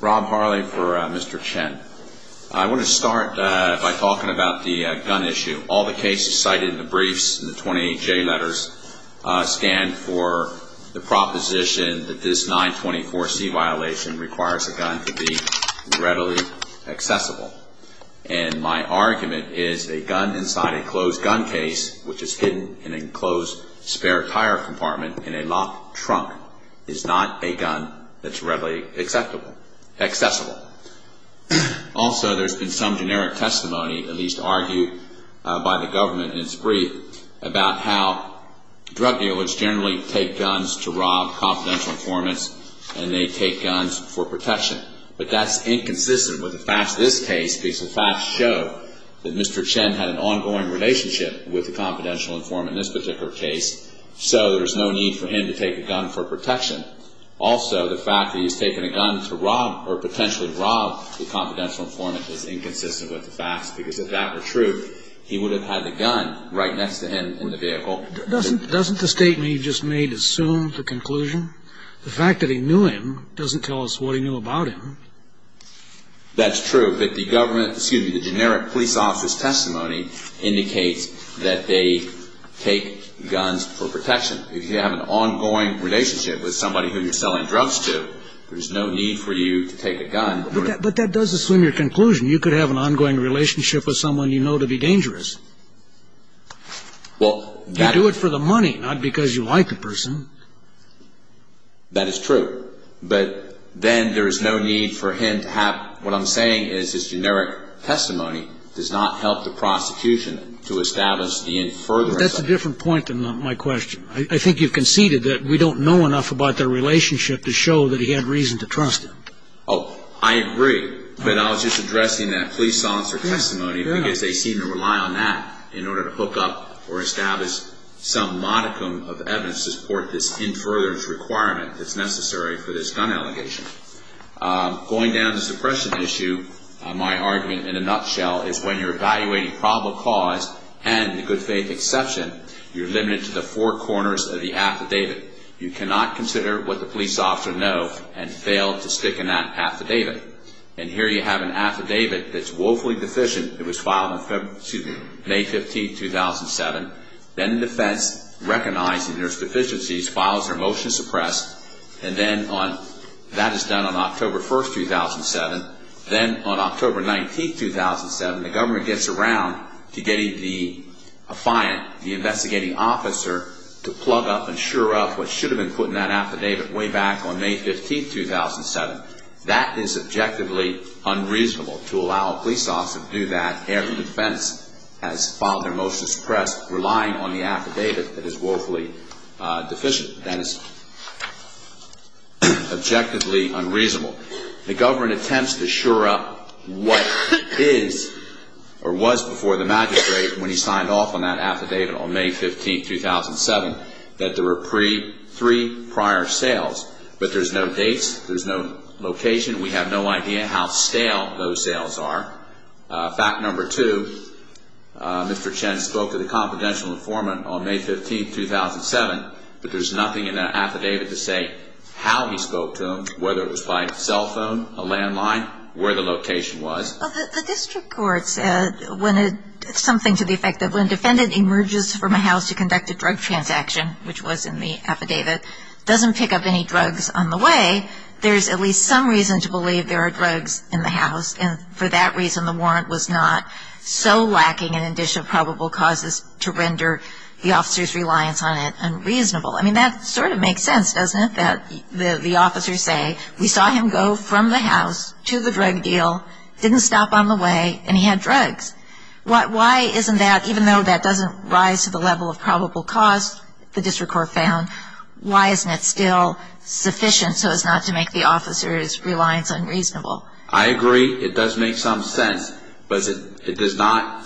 Rob Harley for Mr. Chen. I want to start by talking about the gun issue. All the cases cited in the briefs in the 28J letters stand for the proposition that this 924C violation requires a gun to be readily accessible. And my argument is a gun inside a closed gun case, which is hidden in an enclosed spare tire compartment in a locked trunk, is not a gun that's readily accessible. Also, there's been some generic testimony, at least argued by the government in its brief, about how drug dealers generally take guns to rob confidential informants and they take guns for protection. But that's inconsistent with the facts of this case because the facts show that Mr. Chen had an ongoing relationship with a confidential informant in this particular case, so there's no need for him to take a gun for protection. Also, the fact that he's taken a gun to rob or potentially rob the confidential informant is inconsistent with the facts because if that were true, he would have had the gun right next to him in the vehicle. Doesn't the statement you just made assume the conclusion? The fact that he knew him doesn't tell us what he knew about him. That's true, but the generic police officer's testimony indicates that they take guns for protection. If you have an ongoing relationship with somebody who you're selling drugs to, there's no need for you to take a gun. But that does assume your conclusion. You could have an ongoing relationship with someone you know to be dangerous. You do it for the money, not because you like the person. That is true. But then there is no need for him to have what I'm saying is his generic testimony does not help the prosecution to establish the inferiority. But that's a different point than my question. I think you've conceded that we don't know enough about their relationship to show that he had reason to trust them. Oh, I agree. But I was just addressing that police officer testimony because they seem to rely on that in order to hook up or establish some modicum of evidence to support this claim. That's in further requirement that's necessary for this gun allegation. Going down the suppression issue, my argument in a nutshell is when you're evaluating probable cause and the good faith exception, you're limited to the four corners of the affidavit. You cannot consider what the police officer know and fail to stick in that affidavit. And here you have an affidavit that's woefully deficient. It was filed May 15, 2007. Then the defense, recognizing there's deficiencies, files their motion to suppress. And then that is done on October 1, 2007. Then on October 19, 2007, the government gets around to getting the affiant, the investigating officer, to plug up and sure up what should have been put in that affidavit way back on May 15, 2007. That is objectively unreasonable to allow a police officer to do that. Every defense has filed their motion to suppress, relying on the affidavit that is woefully deficient. That is objectively unreasonable. The government attempts to sure up what is or was before the magistrate when he signed off on that affidavit on May 15, 2007, that there were three prior sales. But there's no dates. There's no location. We have no idea how stale those sales are. Fact number two, Mr. Chen spoke to the confidential informant on May 15, 2007, but there's nothing in that affidavit to say how he spoke to him, whether it was by cell phone, a landline, where the location was. Well, the district court said something to the effect that when a defendant emerges from a house to conduct a drug transaction, which was in the affidavit, doesn't pick up any drugs on the way, there's at least some reason to believe there are drugs in the house. And for that reason, the warrant was not so lacking an addition of probable causes to render the officer's reliance on it unreasonable. I mean, that sort of makes sense, doesn't it, that the officer say, we saw him go from the house to the drug deal, didn't stop on the way, and he had drugs. Why isn't that, even though that doesn't rise to the level of probable cause the district court found, why isn't it still sufficient so as not to make the officer's reliance unreasonable? I agree it does make some sense, but it does not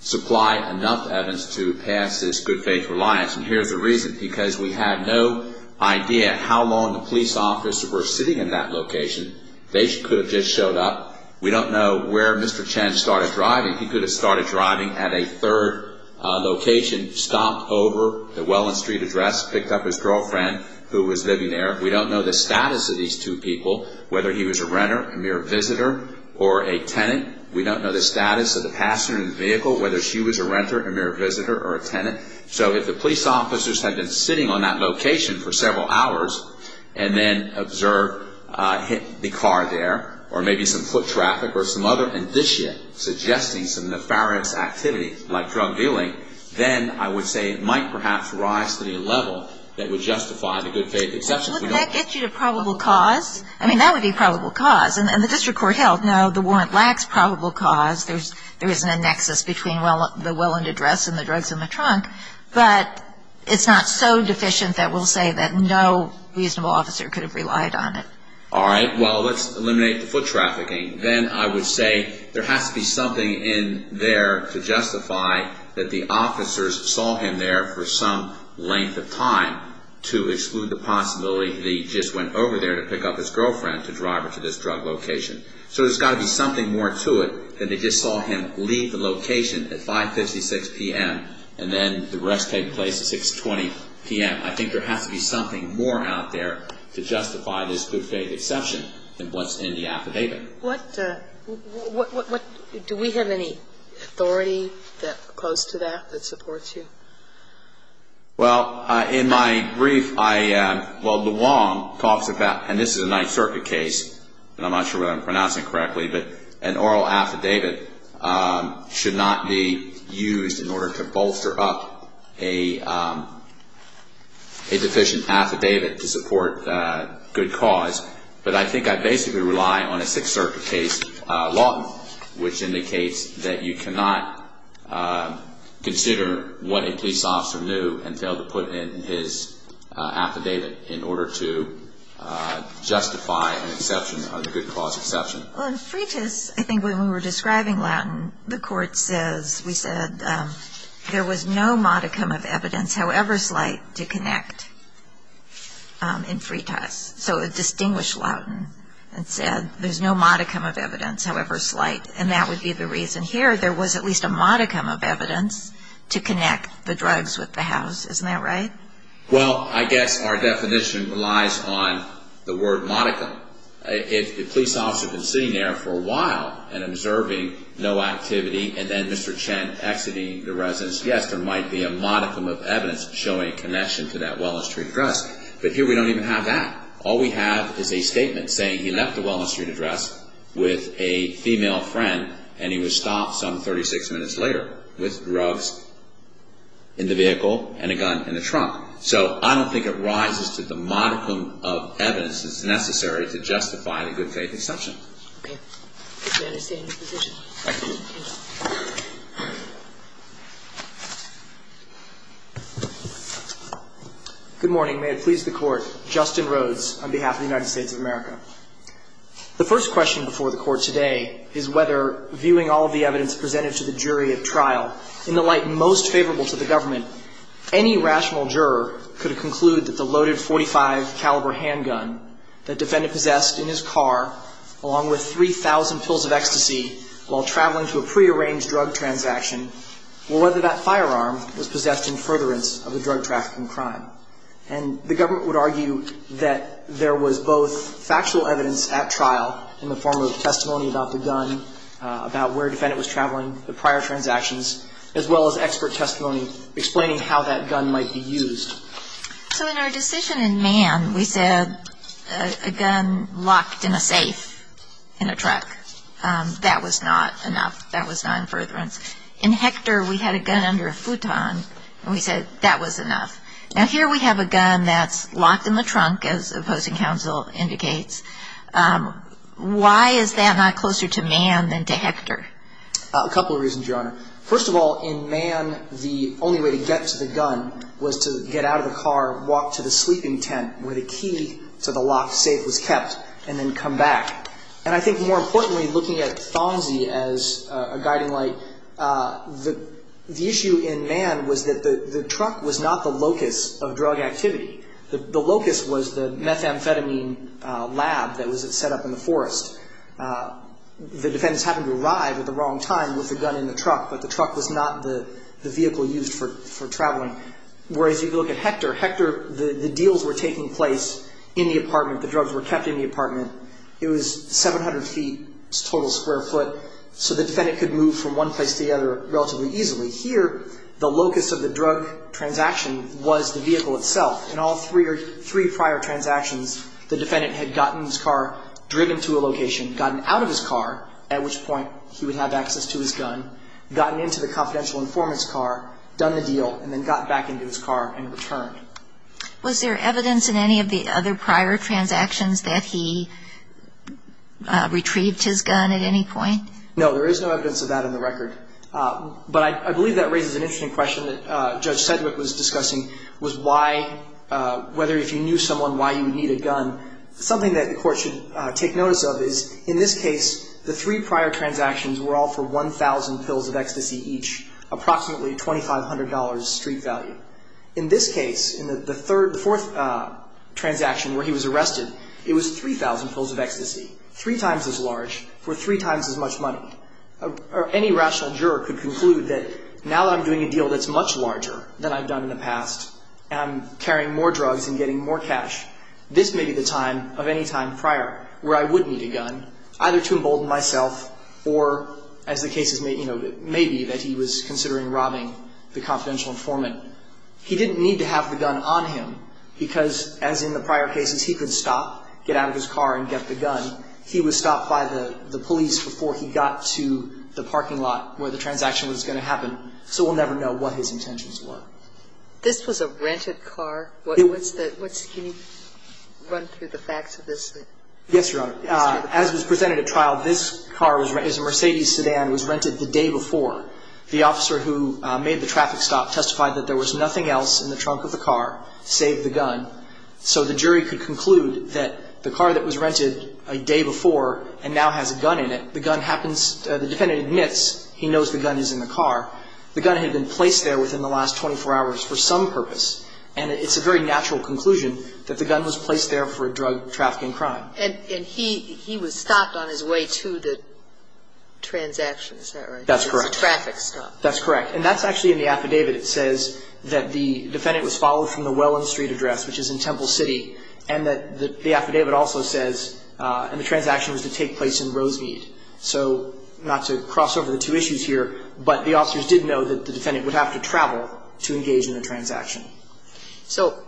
supply enough evidence to pass this good faith reliance. And here's the reason, because we have no idea how long the police officers were sitting in that location. They could have just showed up. We don't know where Mr. Chen started driving. He could have started driving at a third location, stomped over the Welland Street address, picked up his girlfriend who was living there. We don't know the status of these two people, whether he was a renter, a mere visitor, or a tenant. We don't know the status of the passenger in the vehicle, whether she was a renter, a mere visitor, or a tenant. So if the police officers had been sitting on that location for several hours and then observed, hit the car there, or maybe some foot traffic or some other indicia suggesting some nefarious activity like drug dealing, then I would say it might perhaps rise to the level that would justify the good faith exception. But wouldn't that get you to probable cause? I mean, that would be probable cause. And the district court held, no, the warrant lacks probable cause. There isn't a nexus between the Welland address and the drugs in the trunk. But it's not so deficient that we'll say that no reasonable officer could have relied on it. All right. Well, let's eliminate the foot trafficking. Then I would say there has to be something in there to justify that the officers saw him there for some length of time to exclude the possibility that he just went over there to pick up his girlfriend to drive her to this drug location. So there's got to be something more to it than they just saw him leave the location at 5.56 p.m. and then the arrest taking place at 6.20 p.m. I think there has to be something more out there to justify this good faith exception than what's in the affidavit. Do we have any authority close to that that supports you? Well, in my brief, well, the Wong talks about, and this is a Ninth Circuit case, and I'm not sure whether I'm pronouncing it correctly, but an oral affidavit should not be used in order to bolster up a deficient affidavit to support good cause. But I think I basically rely on a Sixth Circuit case law, which indicates that you cannot consider what a police officer knew and fail to put it in his affidavit in order to justify an exception, a good cause exception. Well, in Fretas, I think when we were describing Loughton, the court says, we said there was no modicum of evidence, however slight, to connect in Fretas. So it distinguished Loughton and said there's no modicum of evidence, however slight, and that would be the reason here. There was at least a modicum of evidence to connect the drugs with the house. Isn't that right? Well, I guess our definition relies on the word modicum. If the police officer had been sitting there for a while and observing no activity, and then Mr. Chen exiting the residence, yes, there might be a modicum of evidence showing connection to that Welland Street address. But here we don't even have that. All we have is a statement saying he left the Welland Street address with a female friend and he was stopped some 36 minutes later with drugs in the vehicle and a gun in the trunk. So I don't think it rises to the modicum of evidence that's necessary to justify the good faith exception. Okay. May I stay in this position? Thank you. Thank you. Good morning. May it please the Court. Justin Rhodes on behalf of the United States of America. The first question before the Court today is whether, viewing all of the evidence presented to the jury at trial, in the light most favorable to the government, any rational juror could conclude that the loaded .45 caliber handgun that the defendant possessed in his car along with 3,000 pills of ecstasy while traveling to a prearranged drug transaction, or whether that firearm was possessed in furtherance of a drug trafficking crime. And the government would argue that there was both factual evidence at trial in the form of testimony about the gun, about where the defendant was traveling, the prior transactions, as well as expert testimony explaining how that gun might be used. So in our decision in Mann, we said a gun locked in a safe in a truck. That was not enough. That was not in furtherance. In Hector, we had a gun under a futon, and we said that was enough. Now, here we have a gun that's locked in the trunk, as opposing counsel indicates. Why is that not closer to Mann than to Hector? A couple of reasons, Your Honor. First of all, in Mann, the only way to get to the gun was to get out of the car, walk to the sleeping tent where the key to the locked safe was kept, and then come back. And I think more importantly, looking at Thomsey as a guiding light, the issue in Mann was that the truck was not the locus of drug activity. The locus was the methamphetamine lab that was set up in the forest. The defendants happened to arrive at the wrong time with the gun in the truck, but the truck was not the vehicle used for traveling. Whereas if you look at Hector, Hector, the deals were taking place in the apartment. The drugs were kept in the apartment. It was 700 feet, total square foot, so the defendant could move from one place to the other relatively easily. Here, the locus of the drug transaction was the vehicle itself. In all three prior transactions, the defendant had gotten his car, driven to a location, gotten out of his car, at which point he would have access to his gun, gotten into the confidential informant's car, done the deal, and then got back into his car and returned. Was there evidence in any of the other prior transactions that he retrieved his gun at any point? No. There is no evidence of that on the record. But I believe that raises an interesting question that Judge Sedgwick was discussing, was why, whether if you knew someone, why you would need a gun. Something that the court should take notice of is, in this case, the three prior transactions were all for 1,000 pills of ecstasy each, approximately $2,500 street value. In this case, in the third, the fourth transaction where he was arrested, it was 3,000 pills of ecstasy, three times as large for three times as much money. Any rational juror could conclude that now that I'm doing a deal that's much larger than I've done in the past, and I'm carrying more drugs and getting more cash, this may be the time of any time prior where I would need a gun, either to embolden myself or, as the cases may be, that he was considering robbing the confidential informant. He didn't need to have the gun on him because, as in the prior cases, he could stop, get out of his car, and get the gun. He was stopped by the police before he got to the parking lot where the transaction was going to happen, so we'll never know what his intentions were. This was a rented car? Can you run through the facts of this? Yes, Your Honor. As was presented at trial, this car was a Mercedes sedan, was rented the day before. The officer who made the traffic stop testified that there was nothing else in the trunk of the car save the gun, so the jury could conclude that the car that was rented a day before and now has a gun in it, the gun happens, the defendant admits he knows the gun is in the car. The gun had been placed there within the last 24 hours for some purpose, and it's a very natural conclusion that the gun was placed there for a drug trafficking crime. And he was stopped on his way to the transaction, is that right? That's correct. The traffic stop. That's correct. And that's actually in the affidavit. It says that the defendant was followed from the Welland Street address, which is in Temple City, and that the affidavit also says the transaction was to take place in Rosemead. So not to cross over the two issues here, but the officers did know that the defendant would have to travel to engage in the transaction. So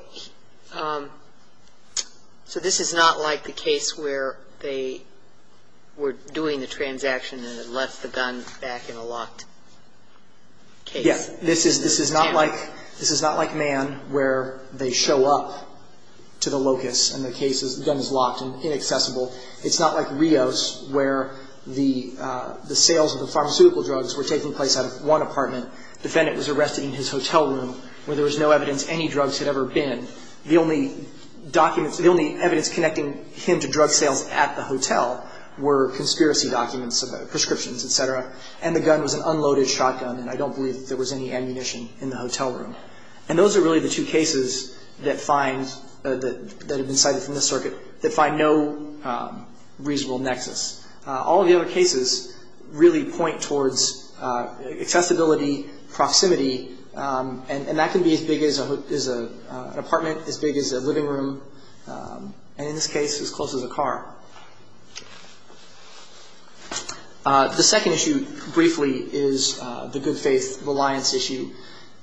this is not like the case where they were doing the transaction and then left the gun back in a locked case? Yes. This is not like Mann where they show up to the locus and the gun is locked and inaccessible. It's not like Rios where the sales of the pharmaceutical drugs were taking place out of one apartment. The defendant was arrested in his hotel room where there was no evidence any drugs had ever been. The only documents, the only evidence connecting him to drug sales at the hotel were conspiracy documents, prescriptions, et cetera, and the gun was an unloaded shotgun, and I don't believe there was any ammunition in the hotel room. And those are really the two cases that find, that have been cited from this circuit, that find no reasonable nexus. All of the other cases really point towards accessibility, proximity, and that can be as big as an apartment, as big as a living room, and in this case as close as a car. The second issue, briefly, is the good faith reliance issue.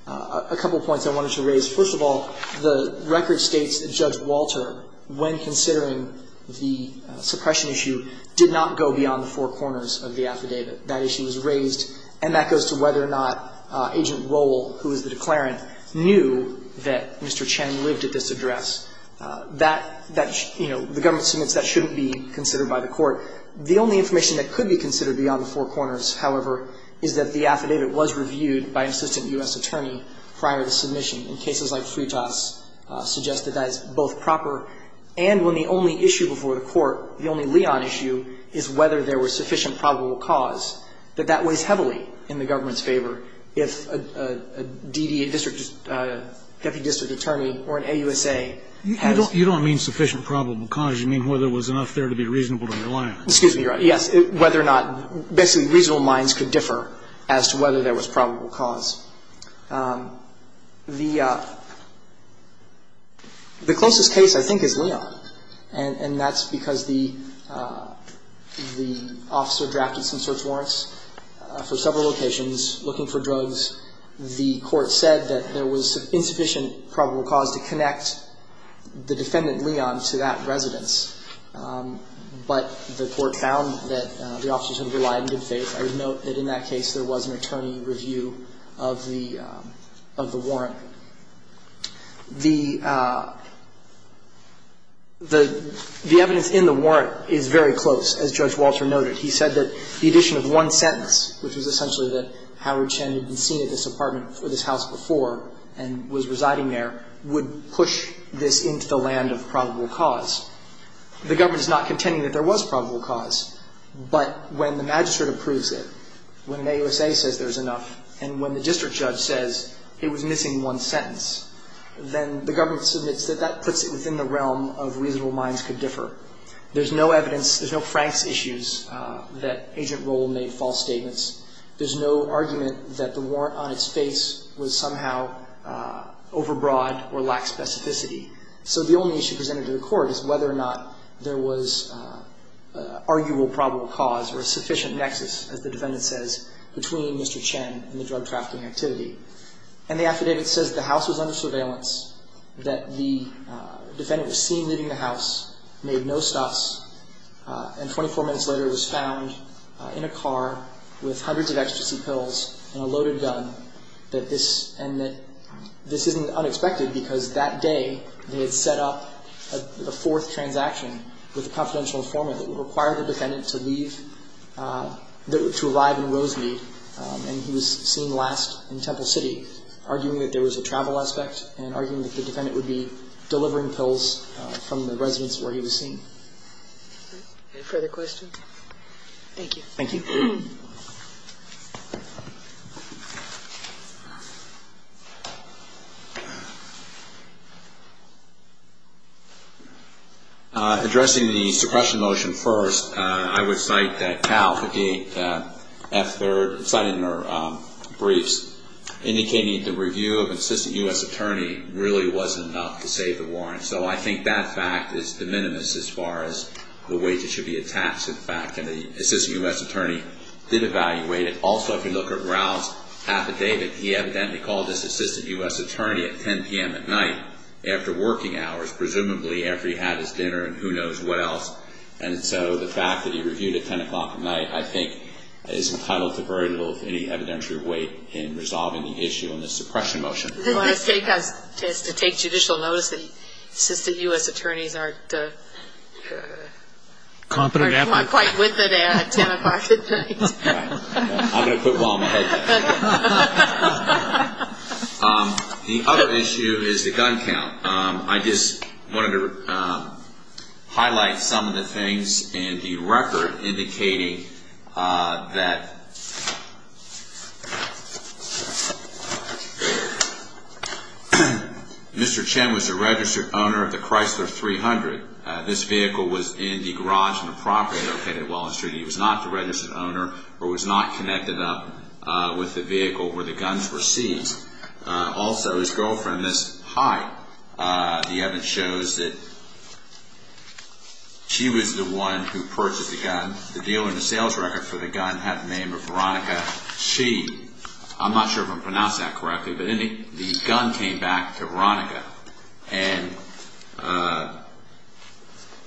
A couple of points I wanted to raise. First of all, the record states that Judge Walter, when considering the suppression issue, did not go beyond the four corners of the affidavit. That issue was raised, and that goes to whether or not Agent Rowell, who is the declarant, knew that Mr. Chen lived at this address. That, that, you know, the government submits that shouldn't be the case. It should be considered by the court. The only information that could be considered beyond the four corners, however, is that the affidavit was reviewed by an assistant U.S. attorney prior to submission. In cases like Sritas, suggested that it's both proper, and when the only issue before the court, the only Leon issue, is whether there was sufficient probable cause, that that weighs heavily in the government's favor if a D.D.A. district, deputy district attorney or an AUSA has ---- You don't mean sufficient probable cause. You mean whether there was enough there to be reasonable to rely on. Excuse me, Your Honor. Yes. Whether or not basically reasonable minds could differ as to whether there was probable cause. The closest case, I think, is Leon. And that's because the officer drafted some search warrants for several locations looking for drugs. And the court said that there was insufficient probable cause to connect the defendant Leon to that residence. But the court found that the officer sort of relied on good faith. I would note that in that case there was an attorney review of the warrant. The evidence in the warrant is very close, as Judge Walter noted. He said that the addition of one sentence, which was essentially that Howard Chen had been seen at this apartment or this house before and was residing there, would push this into the land of probable cause. The government is not contending that there was probable cause, but when the magistrate approves it, when an AUSA says there's enough, and when the district judge says it was missing one sentence, then the government submits that that puts it within the realm of reasonable minds could differ. There's no evidence, there's no Frank's issues that Agent Rowell made false statements. There's no argument that the warrant on its face was somehow overbroad or lacked specificity. So the only issue presented to the court is whether or not there was arguable probable cause or a sufficient nexus, as the defendant says, between Mr. Chen and the drug trafficking activity. And the affidavit says the house was under surveillance, that the defendant was seen leaving the house, made no stops, and 24 minutes later was found in a car with hundreds of ecstasy pills and a loaded gun, and that this isn't unexpected because that day they had set up a fourth transaction with a confidential informant that would require the defendant to leave, to arrive in Rosemead. And he was seen last in Temple City, arguing that there was a travel aspect and arguing that the defendant would be delivering pills from the residence where he was seen. Any further questions? Thank you. Thank you. Addressing the suppression motion first, I would cite that Cal 58F3rd cited in her briefs indicating the review of an assistant U.S. attorney really wasn't enough to save the warrants. So I think that fact is de minimis as far as the wages should be attached to the fact that the assistant U.S. attorney did evaluate it. Also, if you look at Ralph's affidavit, he evidently called his assistant U.S. attorney at 10 p.m. at night after working hours, presumably after he had his dinner and who knows what else. And so the fact that he reviewed at 10 o'clock at night, I think, is entitled to very little with any evidentiary weight in resolving the issue in the suppression motion. It has to take judicial notice that the assistant U.S. attorneys aren't quite with it at 10 o'clock at night. I'm going to quit while I'm ahead. The other issue is the gun count. I just wanted to highlight some of the things in the record indicating that Mr. Chen was a registered owner of the Chrysler 300. This vehicle was in the garage on the property located at Wallace Street. He was not the registered owner or was not connected up with the vehicle where the guns were seized. Also, his girlfriend, Ms. Height, the evidence shows that she was the one who purchased the gun. The dealer in the sales record for the gun had the name of Veronica Chee. I'm not sure if I'm pronouncing that correctly, but the gun came back to Veronica. And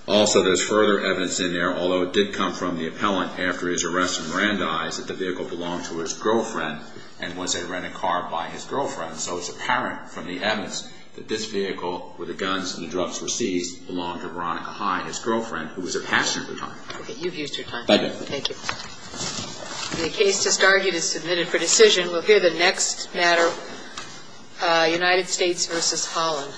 also, there's further evidence in there, although it did come from the appellant after his arrest that the vehicle belonged to his girlfriend and was a rented car by his girlfriend. So it's apparent from the evidence that this vehicle, where the guns and the drugs were seized, belonged to Veronica High, his girlfriend, who was a passenger at the time. Okay, you've used your time. Thank you. The case just argued is submitted for decision. We'll hear the next matter, United States v. Holland.